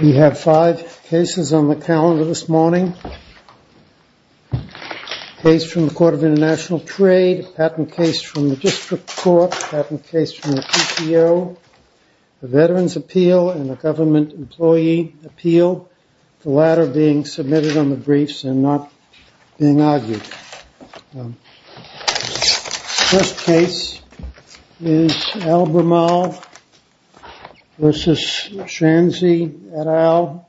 We have five cases on the calendar this morning. A case from the Court of International Trade, a patent case from the District Court, a patent case from the PTO, a Veterans' Appeal and a Government Employee Appeal, the latter being submitted on the briefs and not being argued. The first case is Albremarle v. Shanze et al.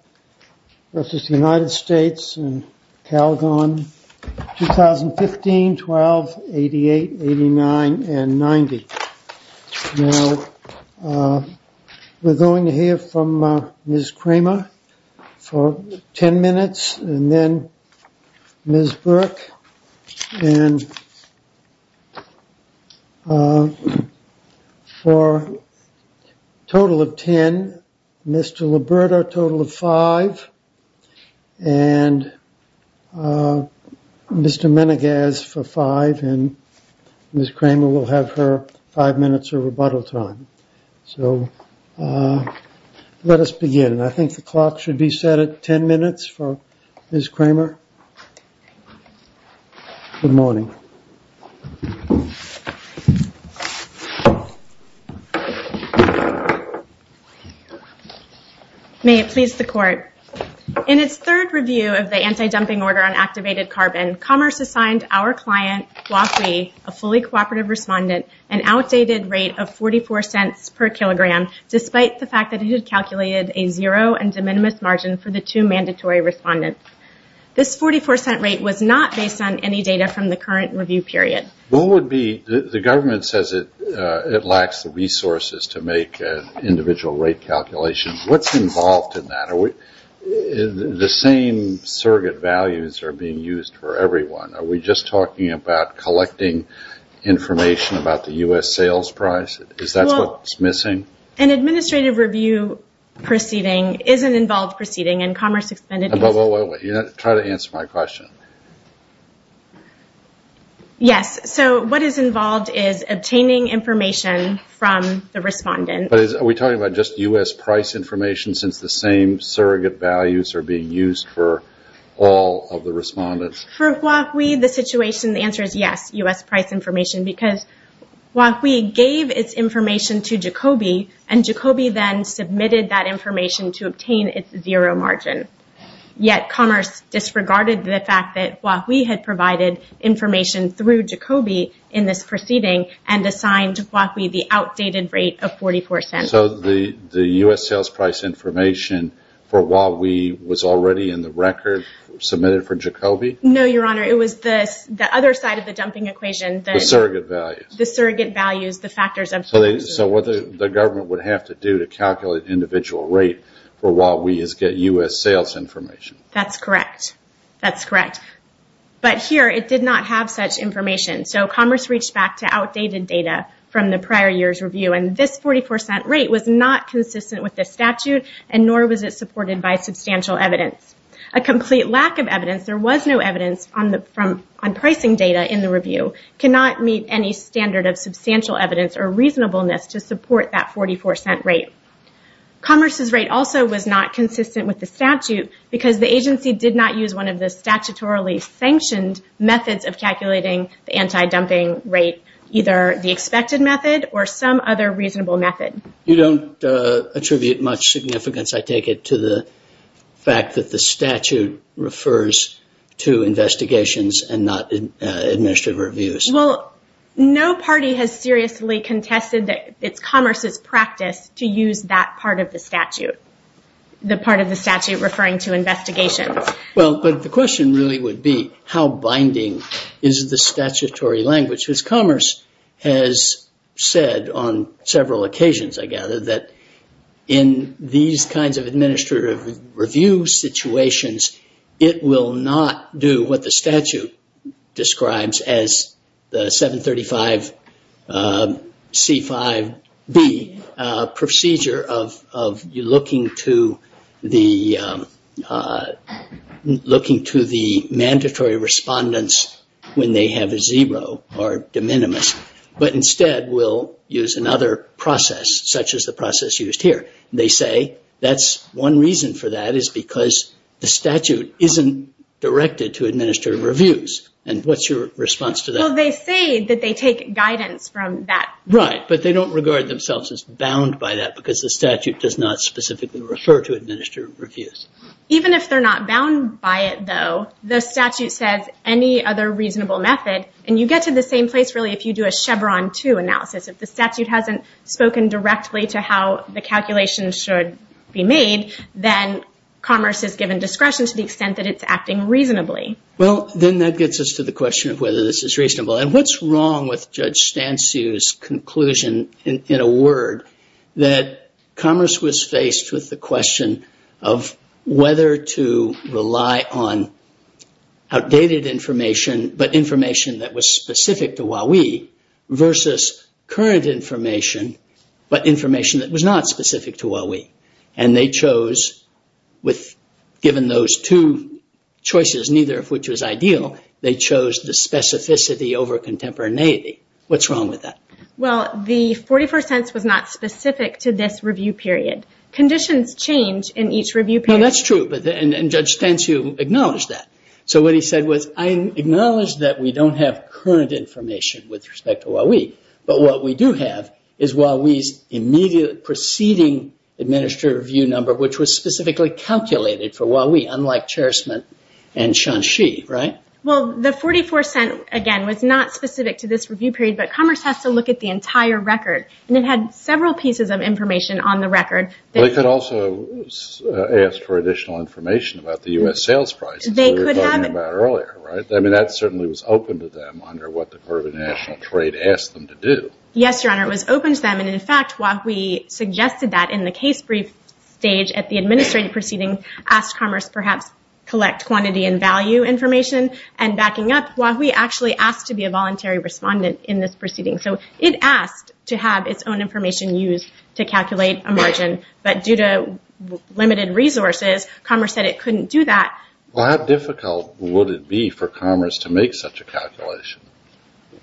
v. United States, Calgon, 2015-12-88-89-90. We're going to hear from Ms. Kramer for 10 minutes and then Ms. Burke for a total of 10, Mr. Liberto a total of 5, and Mr. Menegas for 5. And Ms. Kramer will have her five minutes of rebuttal time. So let us begin. I think the clock should be set at 10 minutes for Ms. Kramer. Good morning. May it please the Court. In its third review of the Anti-Dumping Order on Activated Carbon, Commerce assigned our client, Gua Sui, a fully cooperative respondent, an outdated rate of 44 cents per kilogram, despite the fact that he had calculated a zero and de minimis margin for the two mandatory respondents. This 44-cent rate was not based on any data from the current review period. The government says it lacks the resources to make individual rate calculations. What's involved in that? The same surrogate values are being used for everyone. Are we just talking about collecting information about the U.S. sales price? Is that what's missing? An administrative review proceeding is an involved proceeding in commerce-expended cases. Try to answer my question. Yes. So what is involved is obtaining information from the respondent. Are we talking about just U.S. price information since the same surrogate values are being used for all of the respondents? For Hua Hui, the answer is yes, U.S. price information, because Hua Hui gave its information to Jacobi, and Jacobi then submitted that information to obtain its zero margin. Yet, Commerce disregarded the fact that Hua Hui had provided information through Jacobi in this proceeding and assigned Hua Hui the outdated rate of 44 cents. So the U.S. sales price information for Hua Hui was already in the record submitted for Jacobi? No, Your Honor. It was the other side of the dumping equation. The surrogate values? The surrogate values. So what the government would have to do to calculate individual rate for Hua Hui is get U.S. sales information? That's correct. That's correct. But here, it did not have such information. So Commerce reached back to outdated data from the prior year's review, and this 44 cent rate was not consistent with the statute, and nor was it supported by substantial evidence. A complete lack of evidence, there was no evidence on pricing data in the review, cannot meet any standard of substantial evidence or reasonableness to support that 44 cent rate. Commerce's rate also was not consistent with the statute because the agency did not use one of the statutorily sanctioned methods of calculating the anti-dumping rate, either the expected method or some other reasonable method. You don't attribute much significance, I take it, to the fact that the statute refers to investigations and not administrative reviews? Well, no party has seriously contested Commerce's practice to use that part of the statute, the part of the statute referring to investigations. Well, but the question really would be how binding is the statutory language? Commerce has said on several occasions, I gather, that in these kinds of administrative review situations, it will not do what the statute describes as the 735C5B procedure of looking to the mandatory respondents when they have a zero, or de minimis, but instead will use another process such as the process used here. They say that's one reason for that is because the statute isn't directed to administer reviews. And what's your response to that? Well, they say that they take guidance from that. Right, but they don't regard themselves as bound by that because the statute does not specifically refer to administer reviews. Even if they're not bound by it, though, the statute says any other reasonable method, and you get to the same place, really, if you do a Chevron 2 analysis. If the statute hasn't spoken directly to how the calculations should be made, then Commerce is given discretion to the extent that it's acting reasonably. Well, then that gets us to the question of whether this is reasonable. And what's wrong with Judge Stanciu's conclusion in a word that Commerce was faced with the question of whether to rely on outdated information, but information that was specific to Huawei, versus current information, but information that was not specific to Huawei? And they chose, given those two choices, neither of which was ideal, they chose the specificity over contemporaneity. What's wrong with that? Well, the 44 cents was not specific to this review period. Conditions change in each review period. No, that's true, and Judge Stanciu acknowledged that. So what he said was, I acknowledge that we don't have current information with respect to Huawei, but what we do have is Huawei's immediate preceding administrative review number, which was specifically calculated for Huawei, unlike Charisman and Shanxi, right? Well, the 44 cents, again, was not specific to this review period, but Commerce has to look at the entire record, and it had several pieces of information on the record. But it could also ask for additional information about the U.S. sales prices we were talking about earlier, right? I mean, that certainly was open to them under what the Corporate National Trade asked them to do. Yes, Your Honor, it was open to them. And, in fact, Huawei suggested that in the case brief stage at the administrative proceeding, asked Commerce perhaps collect quantity and value information, and backing up, Huawei actually asked to be a voluntary respondent in this proceeding. So it asked to have its own information used to calculate a margin, but due to limited resources, Commerce said it couldn't do that. Well, how difficult would it be for Commerce to make such a calculation?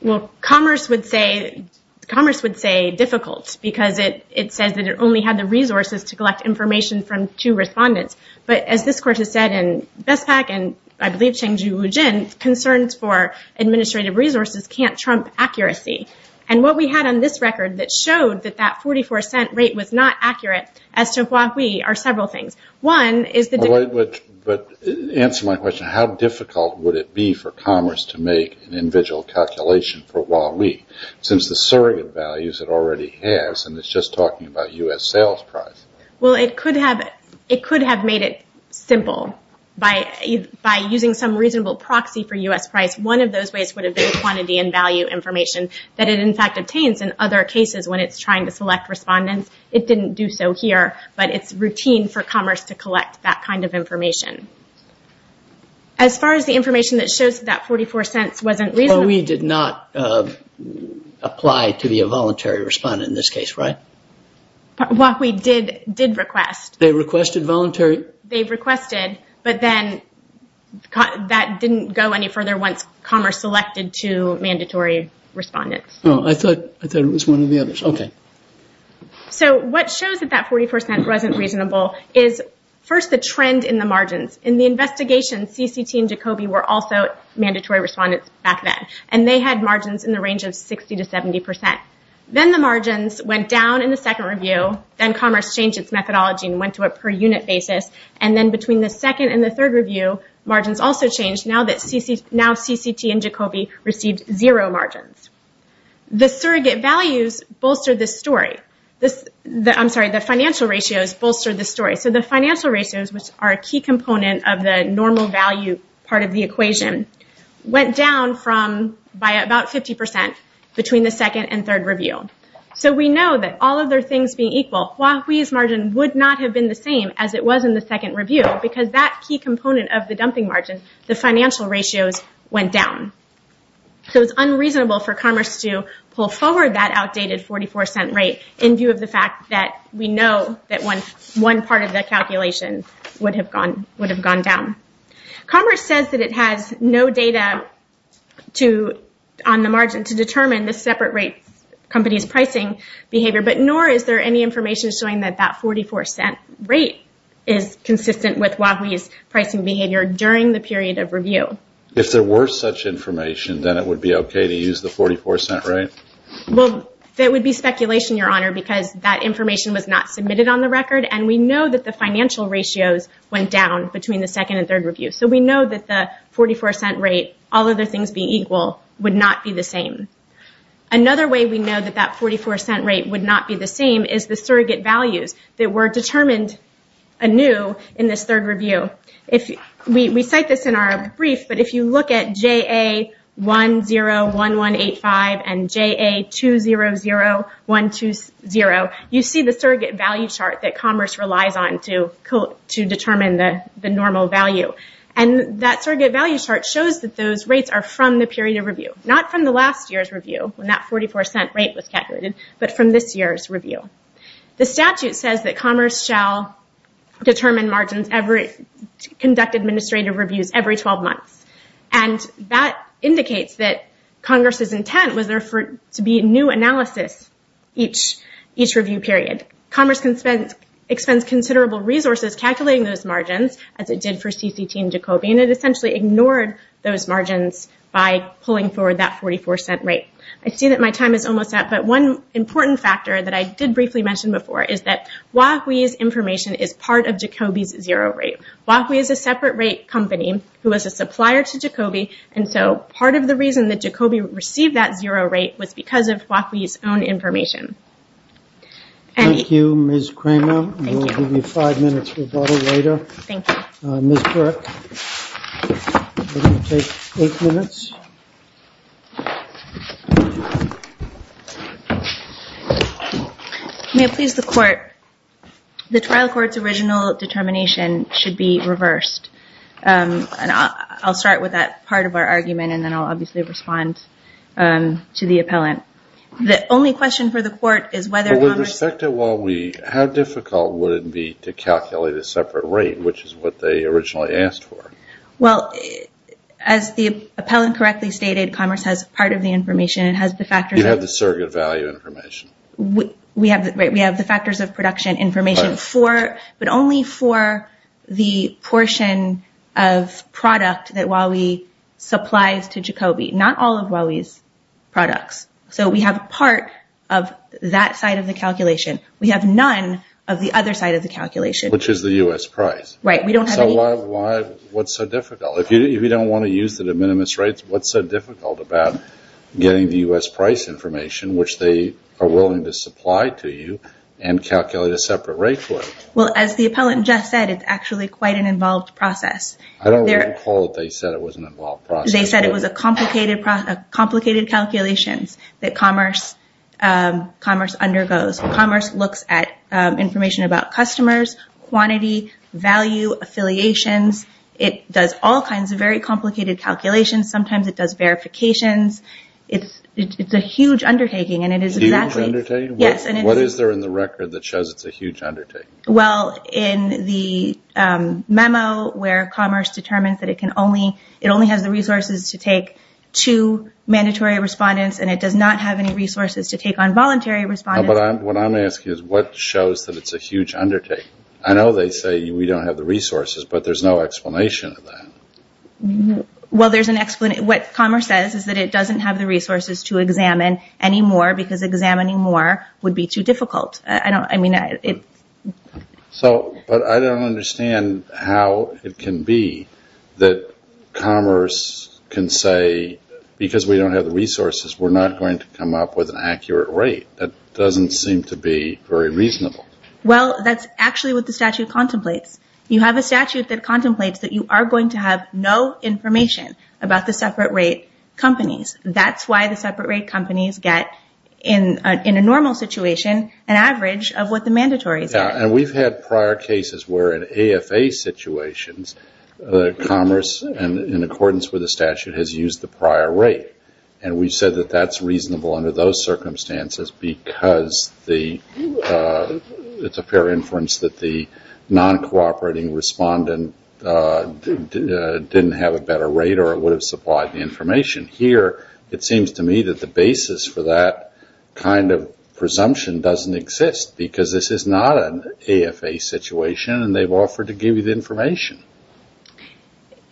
Well, Commerce would say difficult, because it says that it only had the resources to collect information from two respondents. But, as this Court has said in BESPAC and, I believe, Cheng Jiu-Jin, concerns for administrative resources can't trump accuracy. And what we had on this record that showed that that 44-cent rate was not accurate as to Huawei are several things. One is the – But answer my question. How difficult would it be for Commerce to make an individual calculation for Huawei, since the surrogate values it already has, and it's just talking about U.S. sales price? Well, it could have made it simple by using some reasonable proxy for U.S. price. One of those ways would have been quantity and value information that it, in fact, obtains in other cases when it's trying to select respondents. It didn't do so here, but it's routine for Commerce to collect that kind of information. As far as the information that shows that that 44 cents wasn't reasonable – Huawei did not apply to be a voluntary respondent in this case, right? Huawei did request. They requested voluntary? They requested, but then that didn't go any further once Commerce selected two mandatory respondents. Oh, I thought it was one of the others. Okay. So what shows that that 44-cent wasn't reasonable is, first, the trend in the margins. In the investigation, CCT and Jacobi were also mandatory respondents back then, and they had margins in the range of 60 to 70 percent. Then the margins went down in the second review. Then Commerce changed its methodology and went to a per-unit basis. And then between the second and the third review, margins also changed. Now CCT and Jacobi received zero margins. The surrogate values bolstered this story. I'm sorry. The financial ratios bolstered this story. So the financial ratios, which are a key component of the normal value part of the equation, went down by about 50 percent between the second and third review. So we know that all other things being equal, Huawei's margin would not have been the same as it was in the second review, because that key component of the dumping margin, the financial ratios, went down. So it's unreasonable for Commerce to pull forward that outdated 44-cent rate in view of the fact that we know that one part of the calculation would have gone down. Commerce says that it has no data on the margin to determine the separate rate company's pricing behavior, but nor is there any information showing that that 44-cent rate is consistent with Huawei's pricing behavior during the period of review. If there were such information, then it would be okay to use the 44-cent rate? Well, that would be speculation, Your Honor, because that information was not submitted on the record, and we know that the financial ratios went down between the second and third review. So we know that the 44-cent rate, all other things being equal, would not be the same. Another way we know that that 44-cent rate would not be the same is the surrogate values that were determined anew in this third review. We cite this in our brief, but if you look at JA101185 and JA200120, you see the surrogate value chart that Commerce relies on to determine the normal value. And that surrogate value chart shows that those rates are from the period of review, not from the last year's review when that 44-cent rate was calculated, but from this year's review. The statute says that Commerce shall conduct administrative reviews every 12 months, and that indicates that Congress's intent was there to be new analysis each review period. Commerce can spend considerable resources calculating those margins, as it did for CCT and Jacobi, and it essentially ignored those margins by pulling forward that 44-cent rate. I see that my time is almost up, but one important factor that I did briefly mention before is that Wahwee's information is part of Jacobi's zero rate. Wahwee is a separate rate company who is a supplier to Jacobi, and so part of the reason that Jacobi received that zero rate was because of Wahwee's own information. Thank you, Ms. Kramer. We'll give you five minutes to rebuttal later. Thank you. Ms. Burke, we're going to take eight minutes. May it please the Court, the trial court's original determination should be reversed, and I'll start with that part of our argument and then I'll obviously respond to the appellant. The only question for the Court is whether Commerce- How difficult would it be to calculate a separate rate, which is what they originally asked for? Well, as the appellant correctly stated, Commerce has part of the information. You have the surrogate value information. We have the factors of production information, but only for the portion of product that Wahwee supplies to Jacobi, not all of Wahwee's products. So we have part of that side of the calculation. We have none of the other side of the calculation. Which is the U.S. price. Right, we don't have any- So why, what's so difficult? If you don't want to use the de minimis rates, what's so difficult about getting the U.S. price information, which they are willing to supply to you and calculate a separate rate for? Well, as the appellant just said, it's actually quite an involved process. I don't recall that they said it was an involved process. They said it was a complicated calculations that Commerce undergoes. Commerce looks at information about customers, quantity, value, affiliations. It does all kinds of very complicated calculations. Sometimes it does verifications. It's a huge undertaking, and it is exactly- Huge undertaking? Yes, and it's- What is there in the record that shows it's a huge undertaking? Well, in the memo where Commerce determines that it can only- It only has the resources to take two mandatory respondents, and it does not have any resources to take on voluntary respondents. What I'm asking is what shows that it's a huge undertaking? I know they say we don't have the resources, but there's no explanation of that. Well, there's an- What Commerce says is that it doesn't have the resources to examine anymore, because examining more would be too difficult. I don't- I mean, it's- So, but I don't understand how it can be that Commerce can say, because we don't have the resources, we're not going to come up with an accurate rate. That doesn't seem to be very reasonable. Well, that's actually what the statute contemplates. You have a statute that contemplates that you are going to have no information about the separate rate companies. That's why the separate rate companies get, in a normal situation, an average of what the mandatories get. Yeah, and we've had prior cases where, in AFA situations, Commerce, in accordance with the statute, has used the prior rate. And we've said that that's reasonable under those circumstances, because it's a fair inference that the non-cooperating respondent didn't have a better rate or it would have supplied the information. Here, it seems to me that the basis for that kind of presumption doesn't exist, because this is not an AFA situation, and they've offered to give you the information.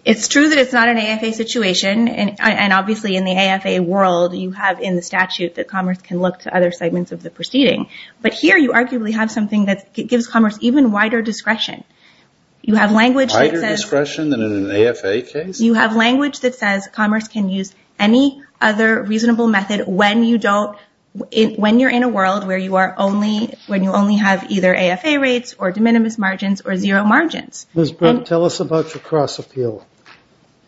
It's true that it's not an AFA situation, and obviously in the AFA world, you have in the statute that Commerce can look to other segments of the proceeding. But here, you arguably have something that gives Commerce even wider discretion. You have language that says- Wider discretion than in an AFA case? You have language that says Commerce can use any other reasonable method when you don't- when you're in a world where you only have either AFA rates or de minimis margins or zero margins. Ms. Brent, tell us about your cross-appeal.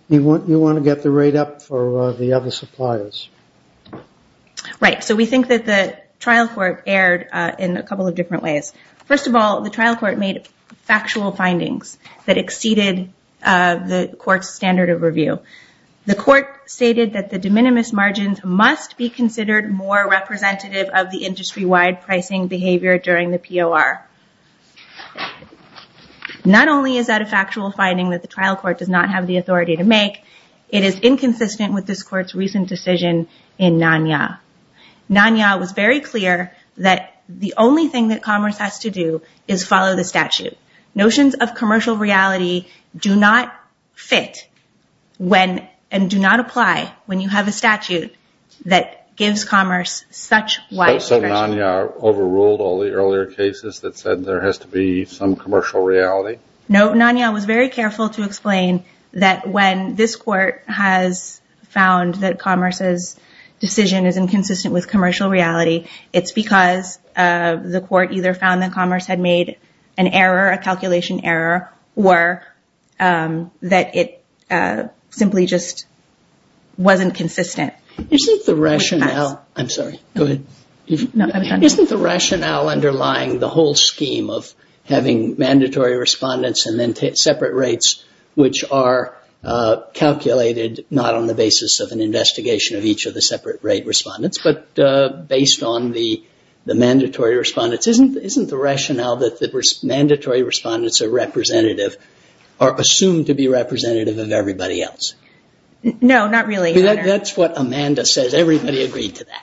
You want to get the rate up for the other suppliers? Right, so we think that the trial court erred in a couple of different ways. First of all, the trial court made factual findings that exceeded the court's standard of review. The court stated that the de minimis margins must be considered more representative of the industry-wide pricing behavior during the POR. Not only is that a factual finding that the trial court does not have the authority to make, it is inconsistent with this court's recent decision in NANYA. NANYA was very clear that the only thing that Commerce has to do is follow the statute. Notions of commercial reality do not fit and do not apply when you have a statute that gives Commerce such wide discretion. So NANYA overruled all the earlier cases that said there has to be some commercial reality? No, NANYA was very careful to explain that when this court has found that Commerce's decision is inconsistent with commercial reality, it's because the court either found that Commerce had made an error, a calculation error, or that it simply just wasn't consistent. Isn't the rationale underlying the whole scheme of having mandatory respondents and then separate rates, which are calculated not on the basis of an investigation of each of the separate rate respondents, but based on the mandatory respondents, isn't the rationale that the mandatory respondents are assumed to be representative of everybody else? No, not really. That's what Amanda says. Everybody agreed to that.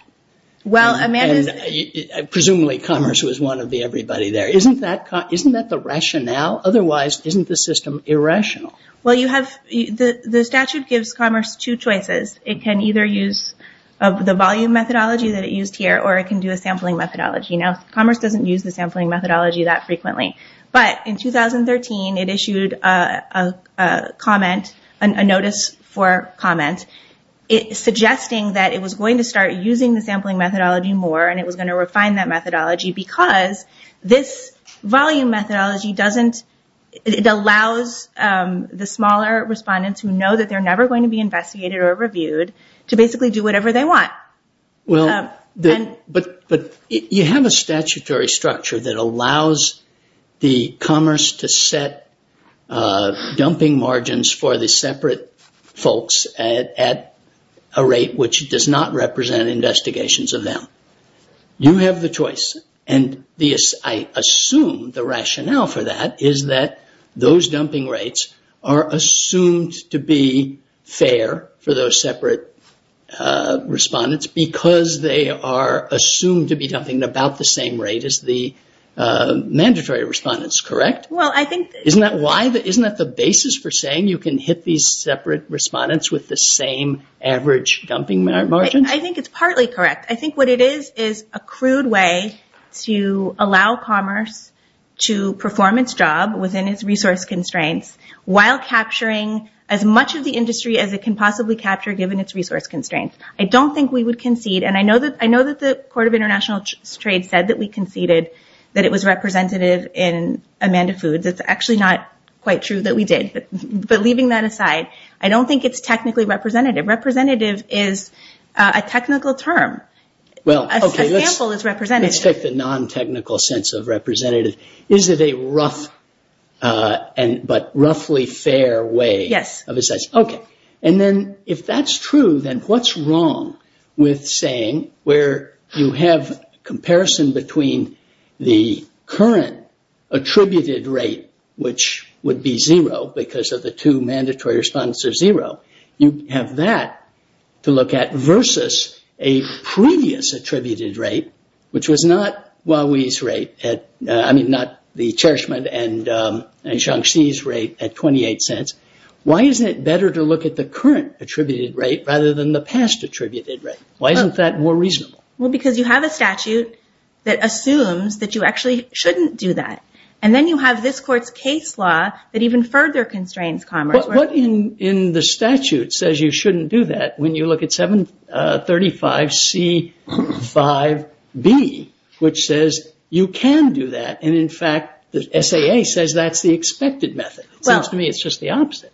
Presumably Commerce was one of the everybody there. Isn't that the rationale? Otherwise, isn't the system irrational? The statute gives Commerce two choices. It can either use the volume methodology that it used here, or it can do a sampling methodology. Commerce doesn't use the sampling methodology that frequently. In 2013, it issued a notice for comment suggesting that it was going to start using the sampling methodology more, and it was going to refine that methodology because this volume methodology allows the smaller respondents, who know that they're never going to be investigated or reviewed, to basically do whatever they want. But you have a statutory structure that allows Commerce to set dumping margins for the separate folks at a rate which does not represent investigations of them. You have the choice. I assume the rationale for that is that those dumping rates are assumed to be fair for those separate respondents because they are assumed to be dumping at about the same rate as the mandatory respondents, correct? Isn't that the basis for saying you can hit these separate respondents with the same average dumping margins? I think it's partly correct. I think what it is is a crude way to allow Commerce to perform its job within its resource constraints while capturing as much of the industry as it can possibly capture given its resource constraints. I don't think we would concede, and I know that the Court of International Trade said that we conceded that it was representative in Amanda Foods. It's actually not quite true that we did, but leaving that aside, I don't think it's technically representative. Representative is a technical term. A sample is representative. Let's take the non-technical sense of representative. Is it a rough but roughly fair way? Yes. Okay. And then if that's true, then what's wrong with saying where you have comparison between the current attributed rate, which would be zero because of the two mandatory respondents are zero, you have that to look at versus a previous attributed rate, which was not Huawei's rate. I mean, not the Cherishman and Zhang Xi's rate at $0.28. Why isn't it better to look at the current attributed rate rather than the past attributed rate? Why isn't that more reasonable? Well, because you have a statute that assumes that you actually shouldn't do that. And then you have this court's case law that even further constrains commerce. But what in the statute says you shouldn't do that when you look at 735C5B, which says you can do that. And, in fact, the SAA says that's the expected method. It seems to me it's just the opposite.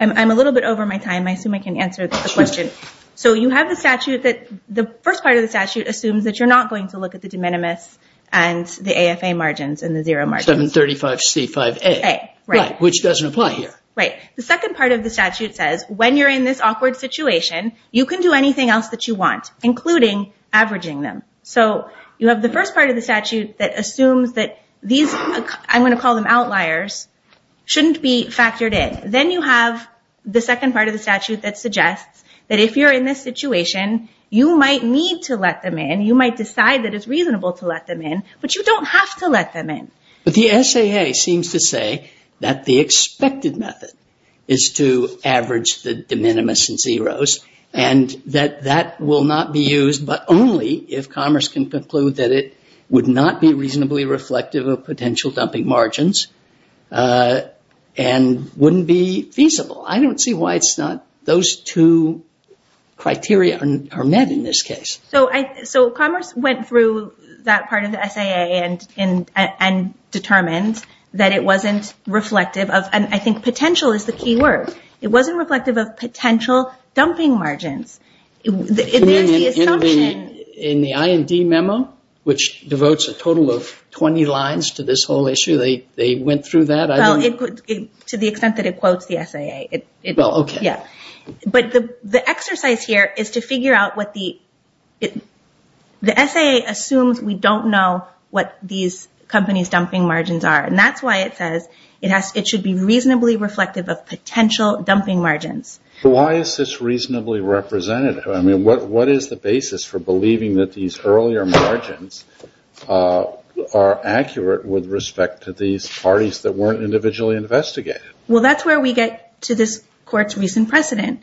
I'm a little bit over my time. I assume I can answer the question. So you have the statute that the first part of the statute assumes that you're not going to look at the de minimis and the AFA margins and the zero margins. 735C5A, which doesn't apply here. Right. The second part of the statute says when you're in this awkward situation, you can do anything else that you want, including averaging them. So you have the first part of the statute that assumes that these, I'm going to call them outliers, shouldn't be factored in. Then you have the second part of the statute that suggests that if you're in this situation, you might need to let them in. You might decide that it's reasonable to let them in, but you don't have to let them in. But the SAA seems to say that the expected method is to average the de minimis and zeros and that that will not be used but only if commerce can conclude that it would not be reasonably reflective of potential dumping margins and wouldn't be feasible. I don't see why it's not those two criteria are met in this case. So commerce went through that part of the SAA and determined that it wasn't reflective of, and I think potential is the key word, it wasn't reflective of potential dumping margins. There's the assumption. In the IND memo, which devotes a total of 20 lines to this whole issue, they went through that? To the extent that it quotes the SAA. But the exercise here is to figure out what the SAA assumes we don't know what these companies' dumping margins are, and that's why it says it should be reasonably reflective of potential dumping margins. Why is this reasonably representative? What is the basis for believing that these earlier margins are accurate with respect to these parties that weren't individually investigated? Well, that's where we get to this court's recent precedent.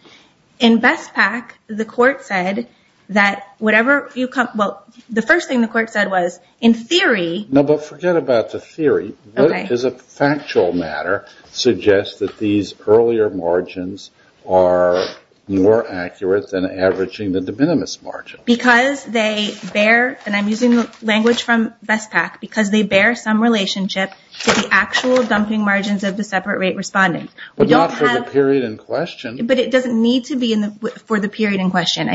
In BESPAC, the court said that whatever you, well, the first thing the court said was in theory. No, but forget about the theory. What is a factual matter suggests that these earlier margins are more accurate than averaging the de minimis margin? Because they bear, and I'm using language from BESPAC, because they bear some relationship to the actual dumping margins of the separate rate respondents. But not for the period in question. But it doesn't need to be for the period in question.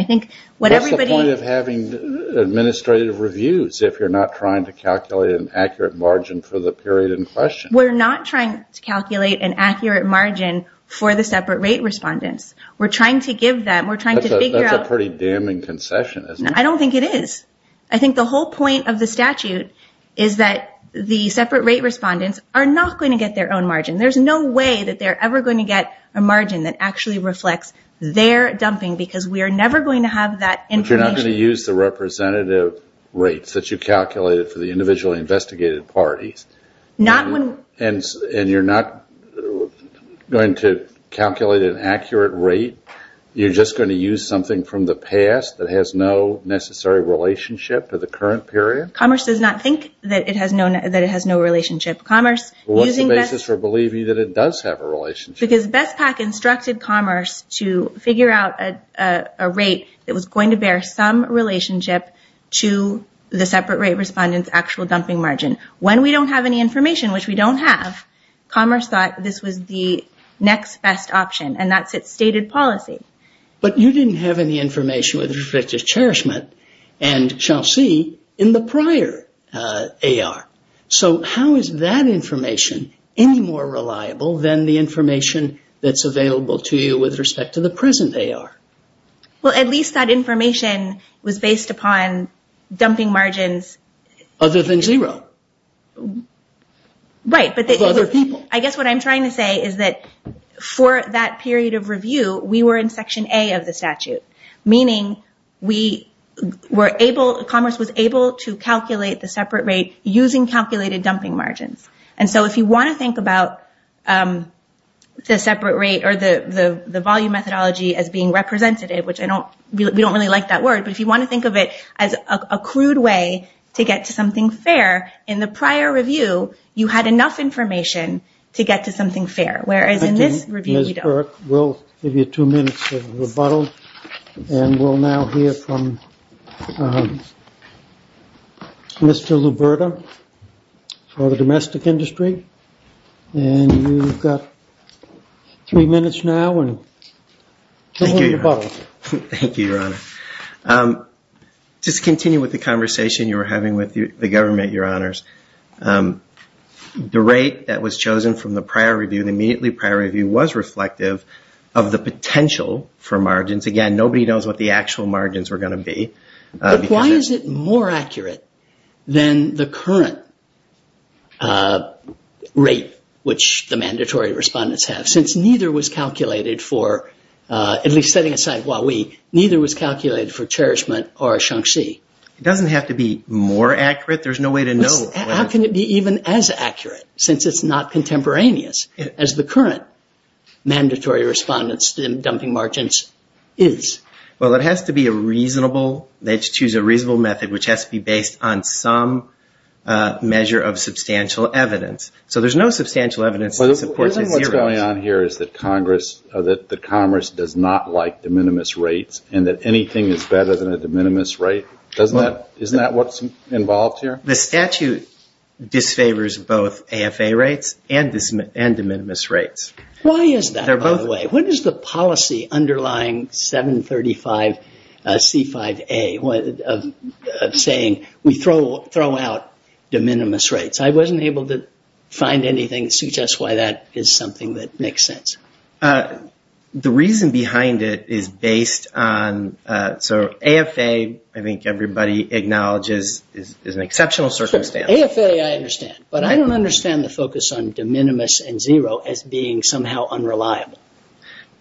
What's the point of having administrative reviews if you're not trying to calculate an accurate margin for the period in question? We're not trying to calculate an accurate margin for the separate rate respondents. We're trying to give them, we're trying to figure out. That's a pretty damning concession, isn't it? I don't think it is. I think the whole point of the statute is that the separate rate respondents are not going to get their own margin. There's no way that they're ever going to get a margin that actually reflects their dumping, because we are never going to have that information. But you're not going to use the representative rates that you calculated for the individually investigated parties. And you're not going to calculate an accurate rate. You're just going to use something from the past that has no necessary relationship to the current period? Commerce does not think that it has no relationship. What's the basis for believing that it does have a relationship? Because BESPAC instructed Commerce to figure out a rate that was going to bear some relationship to the separate rate respondents' actual dumping margin. When we don't have any information, which we don't have, Commerce thought this was the next best option. And that's its stated policy. But you didn't have any information with respect to Cherishment and Chancy in the prior AR. So how is that information any more reliable than the information that's available to you with respect to the present AR? Well, at least that information was based upon dumping margins. Other than zero. Right. Of other people. I guess what I'm trying to say is that for that period of review, we were in Section A of the statute. Meaning Commerce was able to calculate the separate rate using calculated dumping margins. And so if you want to think about the separate rate or the volume methodology as being representative, which we don't really like that word. But if you want to think of it as a crude way to get to something fair, in the prior review, you had enough information to get to something fair. Whereas in this review, we don't. Ms. Burke, we'll give you two minutes for rebuttal. And we'll now hear from Mr. Luberda for the domestic industry. And you've got three minutes now. Thank you, Your Honor. Just to continue with the conversation you were having with the government, Your Honors. The rate that was chosen from the prior review, the immediately prior review, was reflective of the potential for margins. Again, nobody knows what the actual margins were going to be. But why is it more accurate than the current rate, which the mandatory respondents have? Since neither was calculated for, at least setting aside Huawei, neither was calculated for Cherishment or Shaanxi. It doesn't have to be more accurate. There's no way to know. How can it be even as accurate, since it's not contemporaneous, as the current mandatory respondents' dumping margins is? Well, it has to be a reasonable, they have to choose a reasonable method, which has to be based on some measure of substantial evidence. So there's no substantial evidence that supports a zero. But isn't what's going on here is that Congress does not like de minimis rates and that anything is better than a de minimis rate? Isn't that what's involved here? The statute disfavors both AFA rates and de minimis rates. Why is that, by the way? What is the policy underlying 735C5A of saying we throw out de minimis rates? I wasn't able to find anything that suggests why that is something that makes sense. The reason behind it is based on, so AFA, I think everybody acknowledges, is an exceptional circumstance. AFA, I understand. But I don't understand the focus on de minimis and zero as being somehow unreliable.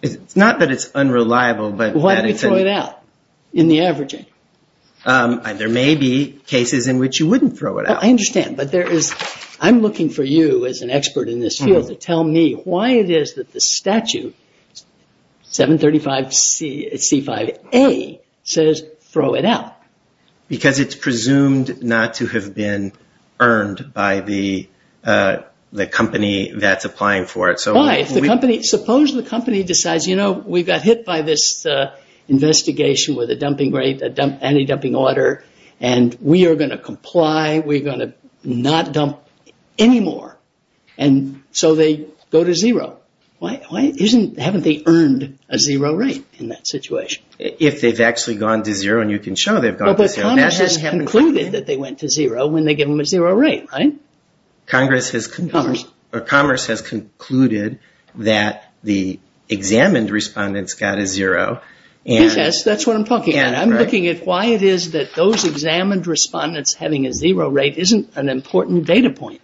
It's not that it's unreliable. Why do we throw it out in the averaging? There may be cases in which you wouldn't throw it out. I understand. But I'm looking for you as an expert in this field to tell me why it is that the statute, 735C5A, says throw it out. Because it's presumed not to have been earned by the company that's applying for it. Suppose the company decides, you know, we got hit by this investigation with a dumping rate, an anti-dumping order, and we are going to comply. We're going to not dump anymore. And so they go to zero. Haven't they earned a zero rate in that situation? If they've actually gone to zero, and you can show they've gone to zero. But Congress has concluded that they went to zero when they give them a zero rate, right? Congress has concluded that the examined respondents got a zero. Yes, that's what I'm talking about. I'm looking at why it is that those examined respondents having a zero rate isn't an important data point.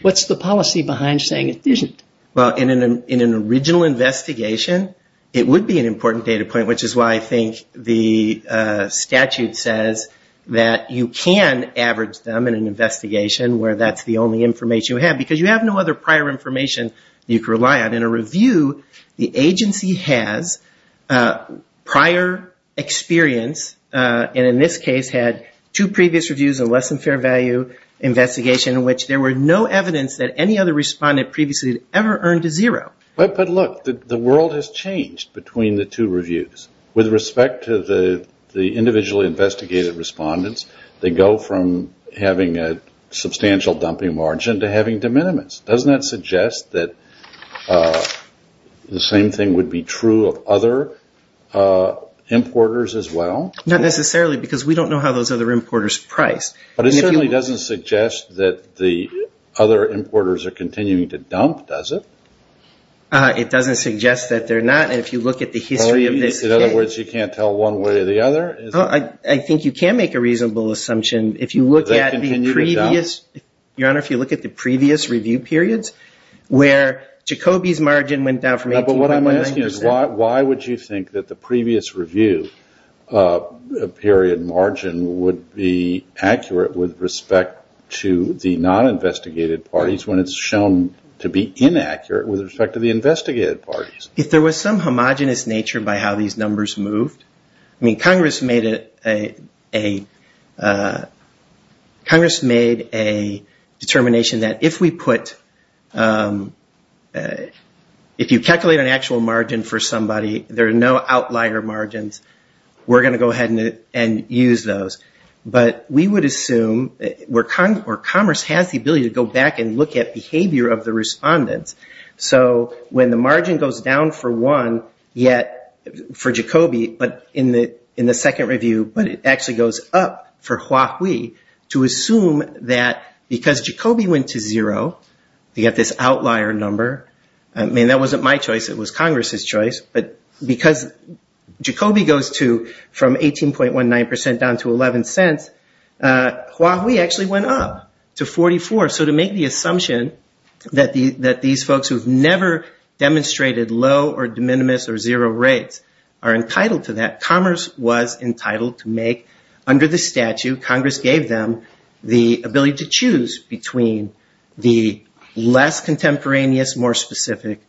What's the policy behind saying it isn't? Well, in an original investigation, it would be an important data point, which is why I think the statute says that you can average them in an investigation where that's the only information you have. Because you have no other prior information you can rely on. And in a review, the agency has prior experience, and in this case had two previous reviews of less than fair value investigation, in which there was no evidence that any other respondent previously had ever earned a zero. But look, the world has changed between the two reviews. With respect to the individually investigated respondents, they go from having a substantial dumping margin to having de minimis. Doesn't that suggest that the same thing would be true of other importers as well? Not necessarily, because we don't know how those other importers price. But it certainly doesn't suggest that the other importers are continuing to dump, does it? It doesn't suggest that they're not, and if you look at the history of this case. In other words, you can't tell one way or the other? I think you can make a reasonable assumption. Your Honor, if you look at the previous review periods, where Jacoby's margin went down from 18.1%. But what I'm asking is why would you think that the previous review period margin would be accurate with respect to the non-investigated parties, when it's shown to be inaccurate with respect to the investigated parties? If there was some homogenous nature by how these numbers moved. I mean, Congress made a determination that if you calculate an actual margin for somebody, there are no outlier margins, we're going to go ahead and use those. But we would assume, or Commerce has the ability to go back and look at behavior of the respondents. So when the margin goes down for Jacoby in the second review, but it actually goes up for Hua Hui, to assume that because Jacoby went to zero, you get this outlier number. I mean, that wasn't my choice, it was Congress's choice. But because Jacoby goes from 18.19% down to 11 cents, Hua Hui actually went up to 44. So to make the assumption that these folks who've never demonstrated low or de minimis or zero rates are entitled to that, Commerce was entitled to make, under the statute Congress gave them, the ability to choose between the less contemporaneous, more specific,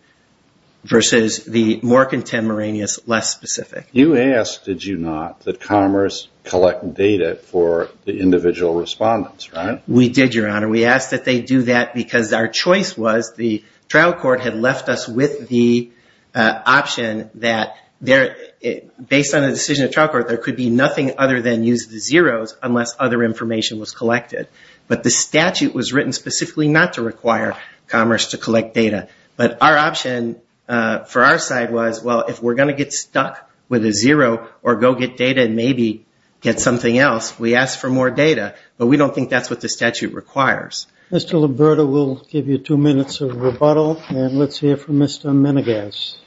versus the more contemporaneous, less specific. You asked, did you not, that Commerce collect data for the individual respondents, right? We did, Your Honor. We asked that they do that because our choice was the trial court had left us with the option that based on the decision of trial court, there could be nothing other than use of the zeros unless other information was collected. But the statute was written specifically not to require Commerce to collect data. But our option for our side was, well, if we're going to get stuck with a zero or go get data and maybe get something else, we ask for more data, but we don't think that's what the statute requires. Mr. Lombardo, we'll give you two minutes of rebuttal, and let's hear from Mr. Menegas.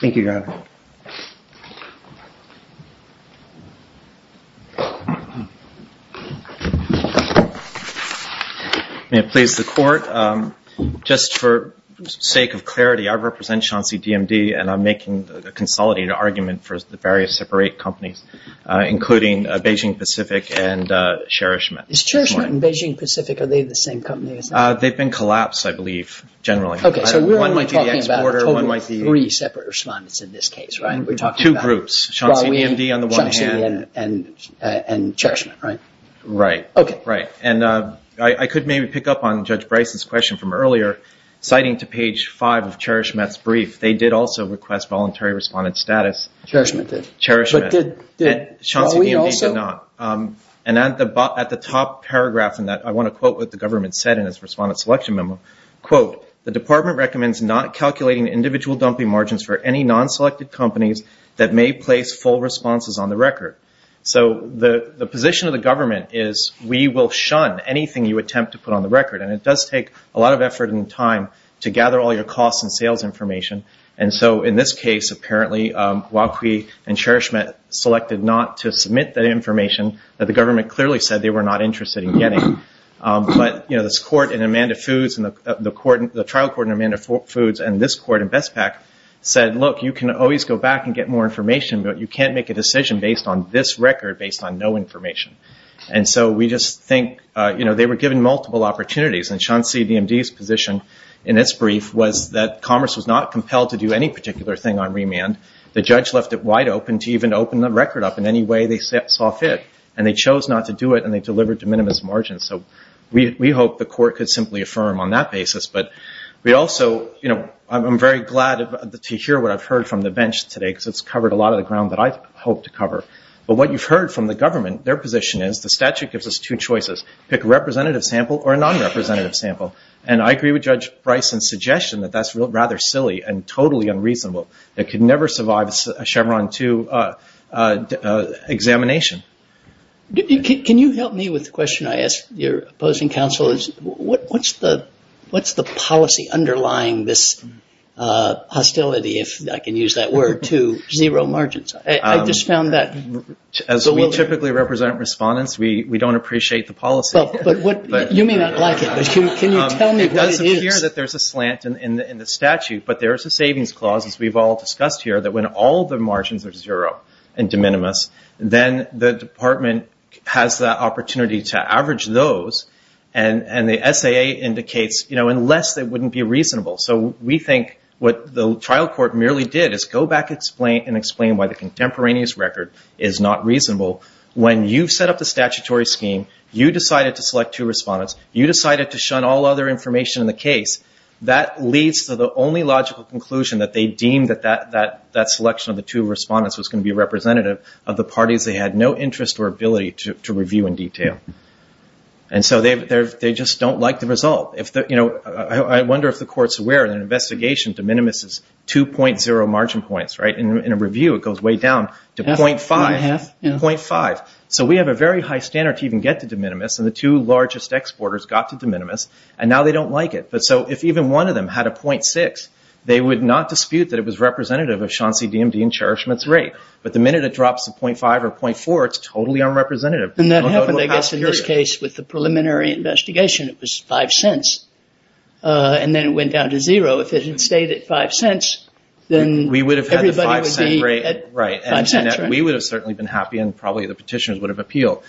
Thank you, Your Honor. May it please the Court, just for sake of clarity, I represent Shaanxi DMD, and I'm making a consolidated argument for the various separate companies, including Beijing Pacific and CherishMet. Is CherishMet and Beijing Pacific, are they the same company? They've been collapsed, I believe, generally. Okay, so we're only talking about a total of three separate respondents in this case, right? We're talking about two groups, Shaanxi DMD on the one hand. Shaanxi DMD and CherishMet, right? Right. Okay. I could maybe pick up on Judge Bryce's question from earlier. Citing to page five of CherishMet's brief, they did also request voluntary respondent status. CherishMet did. CherishMet. Shaanxi DMD did not. And at the top paragraph in that, I want to quote what the government said in its respondent selection memo, quote, the department recommends not calculating individual dumping margins for any non-selected companies that may place full responses on the record. So the position of the government is we will shun anything you attempt to put on the record. And it does take a lot of effort and time to gather all your costs and sales information. And so in this case, apparently, Huawei and CherishMet selected not to submit that information that the government clearly said they were not interested in getting. But, you know, this court in Amanda Foods, the trial court in Amanda Foods and this court in BestPak said, look, you can always go back and get more information, but you can't make a decision based on this record based on no information. And so we just think, you know, they were given multiple opportunities. And Shaanxi DMD's position in its brief was that commerce was not compelled to do any particular thing on remand. The judge left it wide open to even open the record up in any way they saw fit. And they chose not to do it, and they delivered de minimis margins. So we hope the court could simply affirm on that basis. But we also, you know, I'm very glad to hear what I've heard from the bench today because it's covered a lot of the ground that I hope to cover. But what you've heard from the government, their position is the statute gives us two choices. Pick a representative sample or a non-representative sample. And I agree with Judge Bryson's suggestion that that's rather silly and totally unreasonable. It could never survive a Chevron 2 examination. Can you help me with the question I asked your opposing counsel? What's the policy underlying this hostility, if I can use that word, to zero margins? I just found that... As we typically represent respondents, we don't appreciate the policy. You may not like it, but can you tell me what it is? It does appear that there's a slant in the statute, but there is a savings clause, as we've all discussed here, that when all the margins are zero and de minimis, then the department has the opportunity to average those. And the SAA indicates, you know, unless they wouldn't be reasonable. So we think what the trial court merely did is go back and explain why the contemporaneous record is not reasonable. When you've set up the statutory scheme, you decided to select two respondents. You decided to shun all other information in the case. That leads to the only logical conclusion that they deemed that that selection of the two respondents was going to be representative of the parties they had no interest or ability to review in detail. And so they just don't like the result. I wonder if the court's aware that in an investigation, de minimis is 2.0 margin points, right? In a review, it goes way down to 0.5. So we have a very high standard to even get to de minimis, and the two largest exporters got to de minimis, and now they don't like it. But so if even one of them had a 0.6, they would not dispute that it was representative of Chauncey DMD and Cherishman's rate. But the minute it drops to 0.5 or 0.4, it's totally unrepresentative. And that happened, I guess, in this case with the preliminary investigation. It was 5 cents, and then it went down to zero. If it had stayed at 5 cents, then everybody would be at 5 cents, right? We would have certainly been happy, and probably the petitioners would have appealed.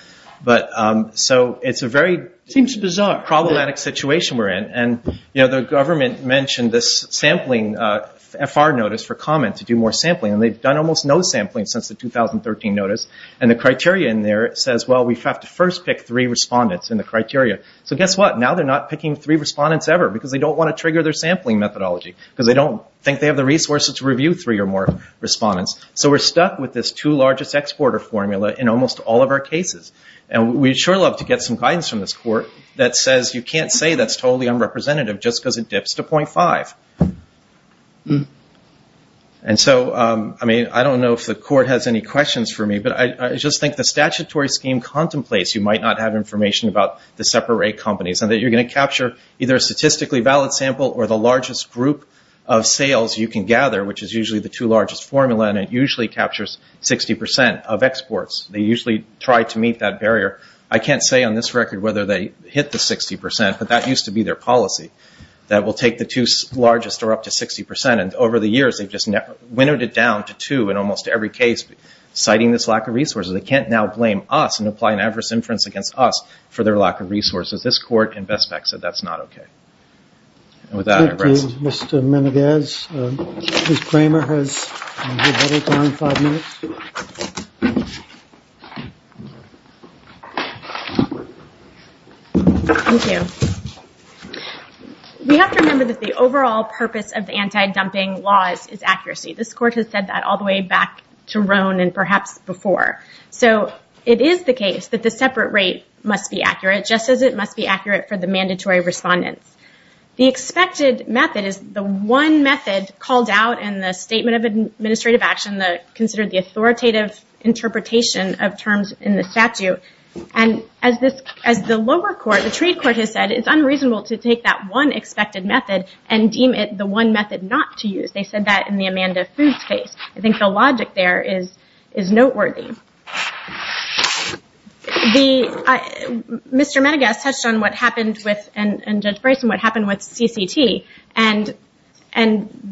But so it's a very problematic situation we're in. And, you know, the government mentioned this sampling FR notice for comment to do more sampling, and they've done almost no sampling since the 2013 notice. And the criteria in there says, well, we have to first pick three respondents in the criteria. So guess what? Now they're not picking three respondents ever because they don't want to trigger their sampling methodology because they don't think they have the resources to review three or more respondents. So we're stuck with this two largest exporter formula in almost all of our cases. And we'd sure love to get some guidance from this court that says you can't say that's totally unrepresentative just because it dips to 0.5. And so, I mean, I don't know if the court has any questions for me, but I just think the statutory scheme contemplates you might not have information about the separate rate companies and that you're going to capture either a statistically valid sample or the largest group of sales you can gather, which is usually the two largest formula, and it usually captures 60% of exports. They usually try to meet that barrier. I can't say on this record whether they hit the 60%, but that used to be their policy, that we'll take the two largest or up to 60%. And over the years they've just winnowed it down to two in almost every case citing this lack of resources. They can't now blame us and apply an adverse inference against us for their lack of resources. This court and BESPAC said that's not okay. Thank you, Mr. Menendez. Ms. Kramer, you have your time, five minutes. Thank you. We have to remember that the overall purpose of anti-dumping laws is accuracy. This court has said that all the way back to Roan and perhaps before. So it is the case that the separate rate must be accurate, just as it must be accurate for the mandatory respondents. The expected method is the one method called out in the statement of administrative action that considered the authoritative interpretation of terms in the statute. And as the lower court, the trade court has said, it's unreasonable to take that one expected method and deem it the one method not to use. They said that in the Amanda Foods case. I think the logic there is noteworthy. Mr. Menendez touched on what happened with, and Judge Bryson, what happened with CCT. And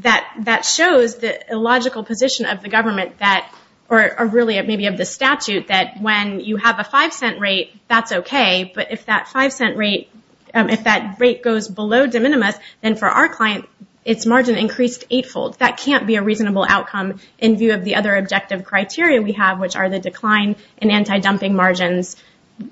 that shows the illogical position of the government that, or really maybe of the statute, that when you have a five cent rate, that's okay. But if that five cent rate, if that rate goes below de minimis, then for our client, its margin increased eightfold. That can't be a reasonable outcome in view of the other objective criteria we have, which are the decline in anti-dumping margins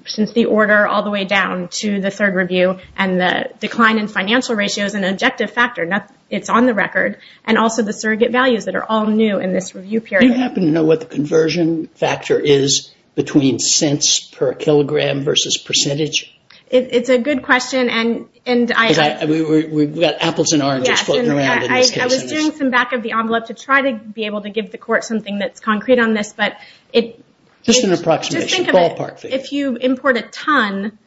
since the order all the way down to the third review. And the decline in financial ratio is an objective factor. It's on the record. And also the surrogate values that are all new in this review period. Do you happen to know what the conversion factor is between cents per kilogram versus percentage? It's a good question. We've got apples and oranges floating around in this case. I was doing some back of the envelope to try to be able to give the court something that's concrete on this. Just an approximation, ballpark figure. If you import a ton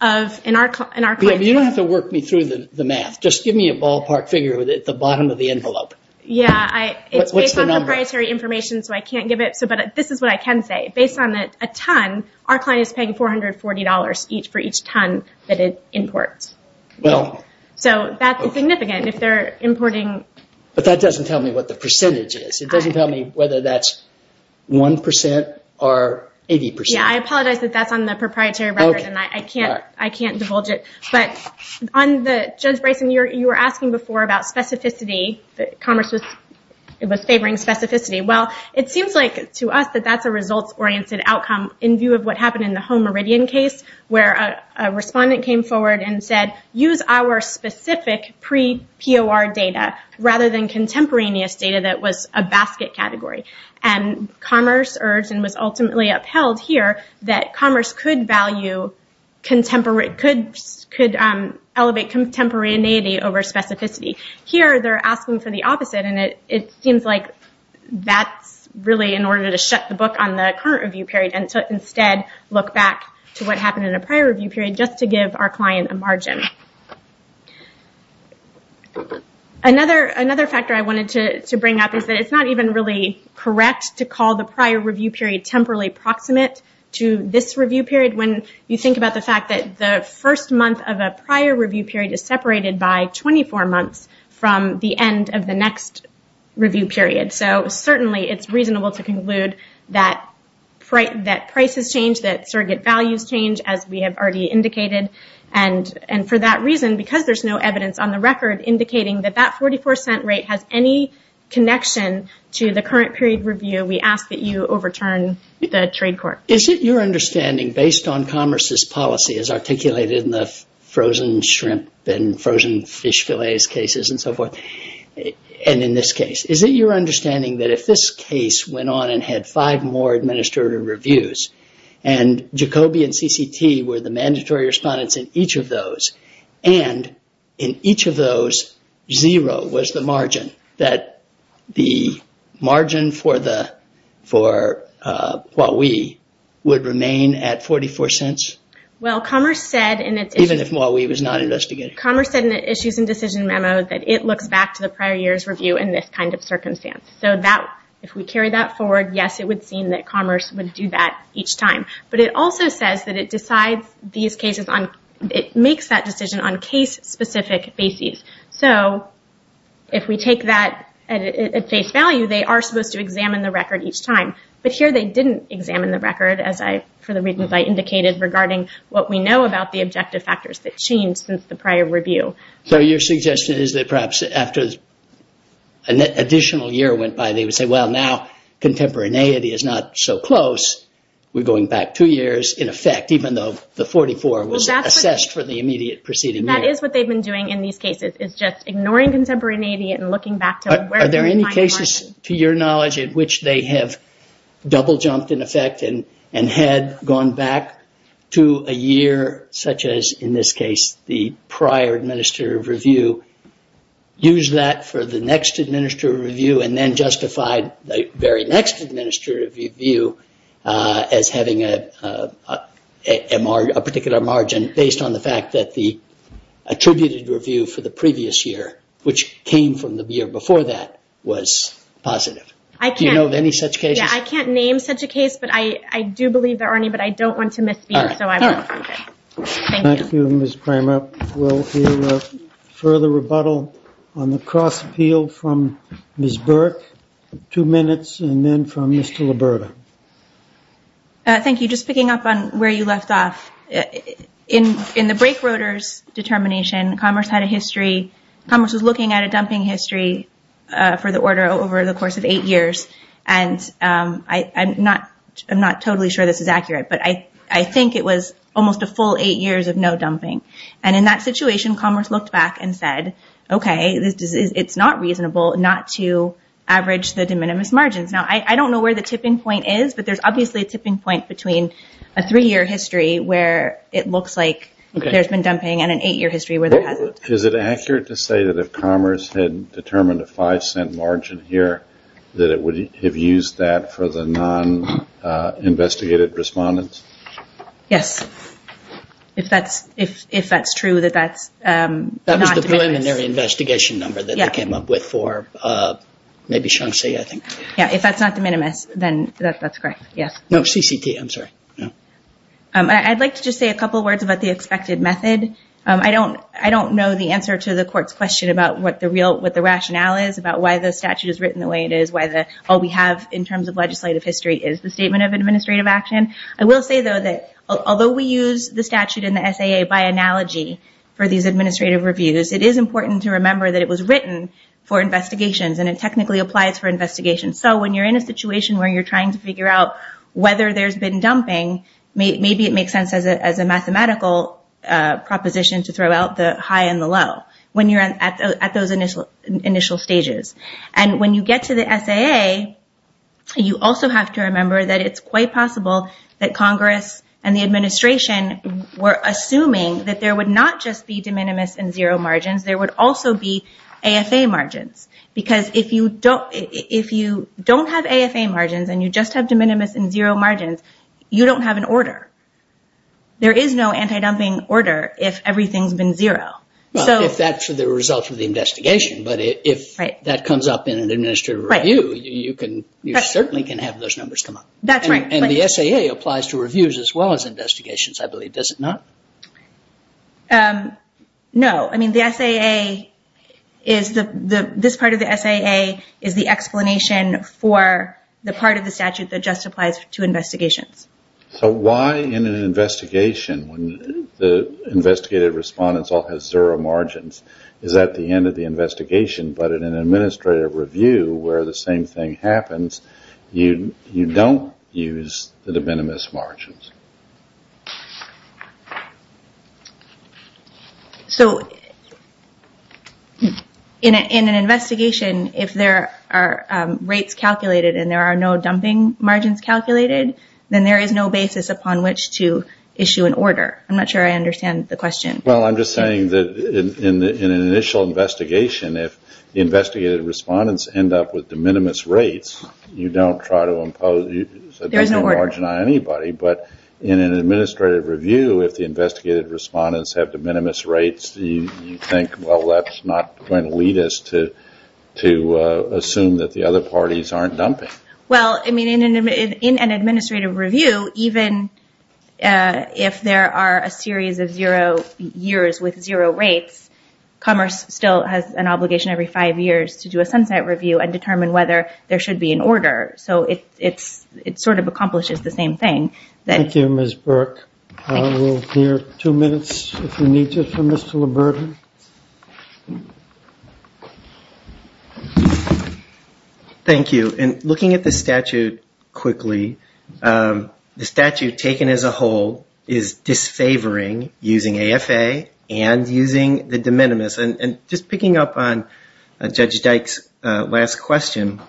of an R client. You don't have to work me through the math. Just give me a ballpark figure at the bottom of the envelope. Yeah, it's based on proprietary information, so I can't give it. But this is what I can say. Based on a ton, our client is paying $440 for each ton that it imports. So that's significant if they're importing. But that doesn't tell me what the percentage is. It doesn't tell me whether that's 1% or 80%. Yeah, I apologize that that's on the proprietary record, and I can't divulge it. But Judge Bryson, you were asking before about specificity. Commerce was favoring specificity. Well, it seems like to us that that's a results-oriented outcome in view of what happened in the Home Meridian case, where a respondent came forward and said, use our specific pre-POR data rather than contemporaneous data that was a basket category. And Commerce urged and was ultimately upheld here that Commerce could elevate contemporaneity over specificity. Here they're asking for the opposite, and it seems like that's really in order to shut the book on the current review period and to instead look back to what happened in a prior review period just to give our client a margin. Another factor I wanted to bring up is that it's not even really correct to call the prior review period temporarily proximate to this review period when you think about the fact that the first month of a prior review period is separated by 24 months from the end of the next review period. So certainly it's reasonable to conclude that prices change, that surrogate values change, as we have already indicated. And for that reason, because there's no evidence on the record indicating that that 44-cent rate has any connection to the current period review, we ask that you overturn the trade court. Is it your understanding, based on Commerce's policy as articulated in the frozen shrimp and frozen fish fillets cases and so forth, and in this case, is it your understanding that if this case went on and had five more administrative reviews and Jacoby and CCT were the mandatory respondents in each of those, and in each of those, zero was the margin, that the margin for Huawei would remain at 44 cents? Even if Huawei was not investigated? Commerce said in the issues and decision memo that it looks back to the prior year's review in this kind of circumstance. So if we carry that forward, yes, it would seem that Commerce would do that each time. But it also says that it makes that decision on case-specific bases. So if we take that at face value, they are supposed to examine the record each time. But here they didn't examine the record, for the reasons I indicated regarding what we know about the objective factors that changed since the prior review. So your suggestion is that perhaps after an additional year went by, they would say, well, now, contemporaneity is not so close. We're going back two years, in effect, even though the 44 was assessed for the immediate preceding year. That is what they've been doing in these cases, is just ignoring contemporaneity and looking back to where we find the margin. Are there any cases, to your knowledge, in which they have double jumped, in effect, and had gone back to a year such as, in this case, the prior administrative review, used that for the next administrative review, and then justified the very next administrative review as having a particular margin, based on the fact that the attributed review for the previous year, which came from the year before that, was positive? Do you know of any such cases? Yeah, I can't name such a case, but I do believe there are any, but I don't want to misspeak, so I won't comment. Thank you. Thank you, Ms. Kramer. We'll hear further rebuttal on the cross-appeal from Ms. Burke, two minutes, and then from Mr. Liberta. Thank you. Just picking up on where you left off, in the brake rotors determination, Commerce had a history, Commerce was looking at a dumping history for the order over the course of eight years, and I'm not totally sure this is accurate, but I think it was almost a full eight years of no dumping. And in that situation, Commerce looked back and said, okay, it's not reasonable not to average the de minimis margins. Now, I don't know where the tipping point is, but there's obviously a tipping point between a three-year history, where it looks like there's been dumping, and an eight-year history where there hasn't. Is it accurate to say that if Commerce had determined a five-cent margin here, that it would have used that for the non-investigated respondents? Yes. If that's true, that that's not de minimis. That was the preliminary investigation number that they came up with for maybe Shaanxi, I think. Yeah, if that's not de minimis, then that's correct, yes. No, CCT, I'm sorry. I'd like to just say a couple words about the expected method. I don't know the answer to the court's question about what the rationale is, about why the statute is written the way it is, why all we have in terms of legislative history is the Statement of Administrative Action. I will say, though, that although we use the statute and the SAA by analogy for these administrative reviews, it is important to remember that it was written for investigations, and it technically applies for investigations. So when you're in a situation where you're trying to figure out whether there's been dumping, maybe it makes sense as a mathematical proposition to throw out the high and the low when you're at those initial stages. And when you get to the SAA, you also have to remember that it's quite possible that Congress and the administration were assuming that there would not just be de minimis and zero margins. There would also be AFA margins. Because if you don't have AFA margins and you just have de minimis and zero margins, you don't have an order. There is no anti-dumping order if everything's been zero. Well, if that's the result of the investigation, but if that comes up in an administrative review, you certainly can have those numbers come up. That's right. And the SAA applies to reviews as well as investigations, I believe, does it not? No. I mean, the SAA is the – this part of the SAA is the explanation for the part of the statute that just applies to investigations. So why in an investigation, when the investigative respondents all have zero margins, is at the end of the investigation, but in an administrative review where the same thing happens, you don't use the de minimis margins? So in an investigation, if there are rates calculated and there are no dumping margins calculated, then there is no basis upon which to issue an order. I'm not sure I understand the question. Well, I'm just saying that in an initial investigation, if the investigative respondents end up with de minimis rates, you don't try to impose – There is no order. But in an administrative review, if the investigative respondents have de minimis rates, you think, well, that's not going to lead us to assume that the other parties aren't dumping. Well, I mean, in an administrative review, even if there are a series of zero years with zero rates, Commerce still has an obligation every five years to do a sunset review and determine whether there should be an order. So it sort of accomplishes the same thing. Thank you, Ms. Burke. We'll hear two minutes, if we need to, from Mr. Liberton. Thank you. And looking at the statute quickly, the statute taken as a whole is disfavoring using AFA and using the de minimis. And just picking up on Judge Dyke's last question,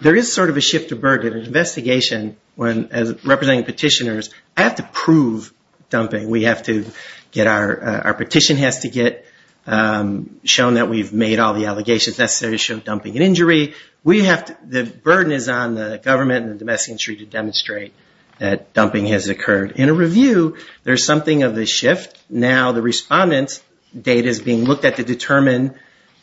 there is sort of a shift of burden. In an investigation, when representing petitioners, I have to prove dumping. Our petition has to get shown that we've made all the allegations necessary to show dumping and injury. The burden is on the government and the domestic industry to demonstrate that dumping has occurred. In a review, there's something of a shift. Now the respondent data is being looked at to determine,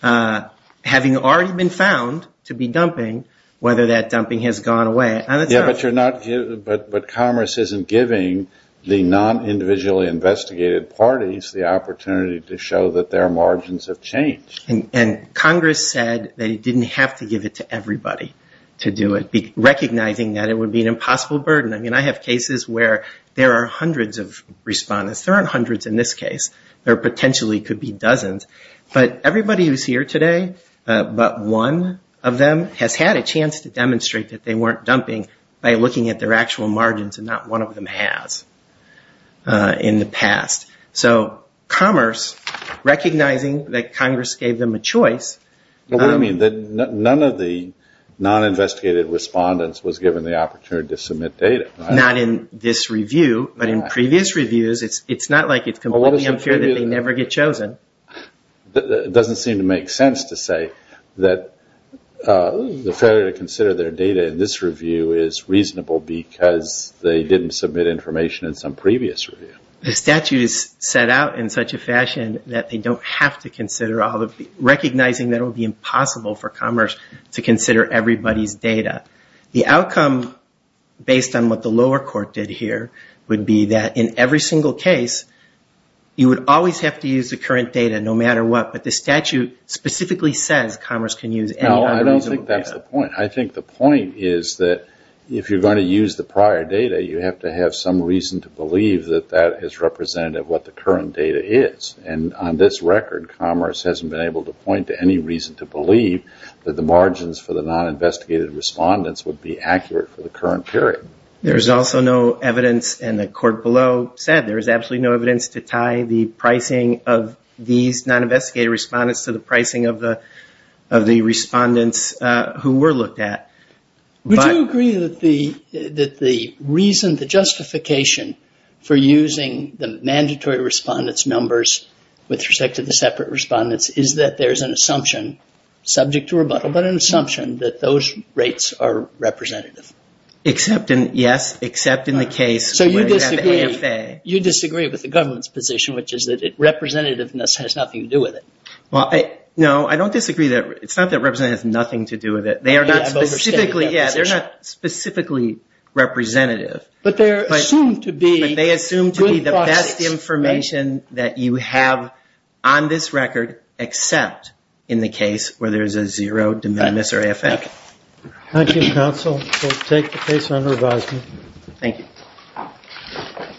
having already been found to be dumping, whether that dumping has gone away. But Commerce isn't giving the non-individually investigated parties the opportunity to show that their margins have changed. And Congress said they didn't have to give it to everybody to do it, recognizing that it would be an impossible burden. I mean, I have cases where there are hundreds of respondents. There aren't hundreds in this case. There potentially could be dozens. But everybody who's here today but one of them has had a chance to demonstrate that they weren't dumping by looking at their actual margins, and not one of them has in the past. So Commerce, recognizing that Congress gave them a choice. But what I mean, none of the non-investigated respondents was given the opportunity to submit data. Not in this review, but in previous reviews. It's not like it's completely unfair that they never get chosen. It doesn't seem to make sense to say that the failure to consider their data in this review is reasonable because they didn't submit information in some previous review. The statute is set out in such a fashion that they don't have to consider all of it, recognizing that it would be impossible for Commerce to consider everybody's data. The outcome, based on what the lower court did here, would be that in every single case, you would always have to use the current data no matter what. But the statute specifically says Commerce can use any unreasonable data. No, I don't think that's the point. I think the point is that if you're going to use the prior data, you have to have some reason to believe that that is representative of what the current data is. And on this record, Commerce hasn't been able to point to any reason to believe that the margins for the non-investigated respondents would be accurate for the current period. There is also no evidence, and the court below said there is absolutely no evidence, to tie the pricing of these non-investigated respondents to the pricing of the respondents who were looked at. Would you agree that the reason, the justification for using the mandatory respondents' numbers with respect to the separate respondents is that there is an assumption subject to rebuttal, but an assumption that those rates are representative? Yes, except in the case where you have AFA. So you disagree with the government's position, which is that representativeness has nothing to do with it? No, I don't disagree. It's not that representativeness has nothing to do with it. They are not specifically representative. But they are assumed to be good prospects. There is no information that you have on this record except in the case where there is a zero de minimis or AFA. Thank you, counsel. We'll take the case under advisement. Thank you.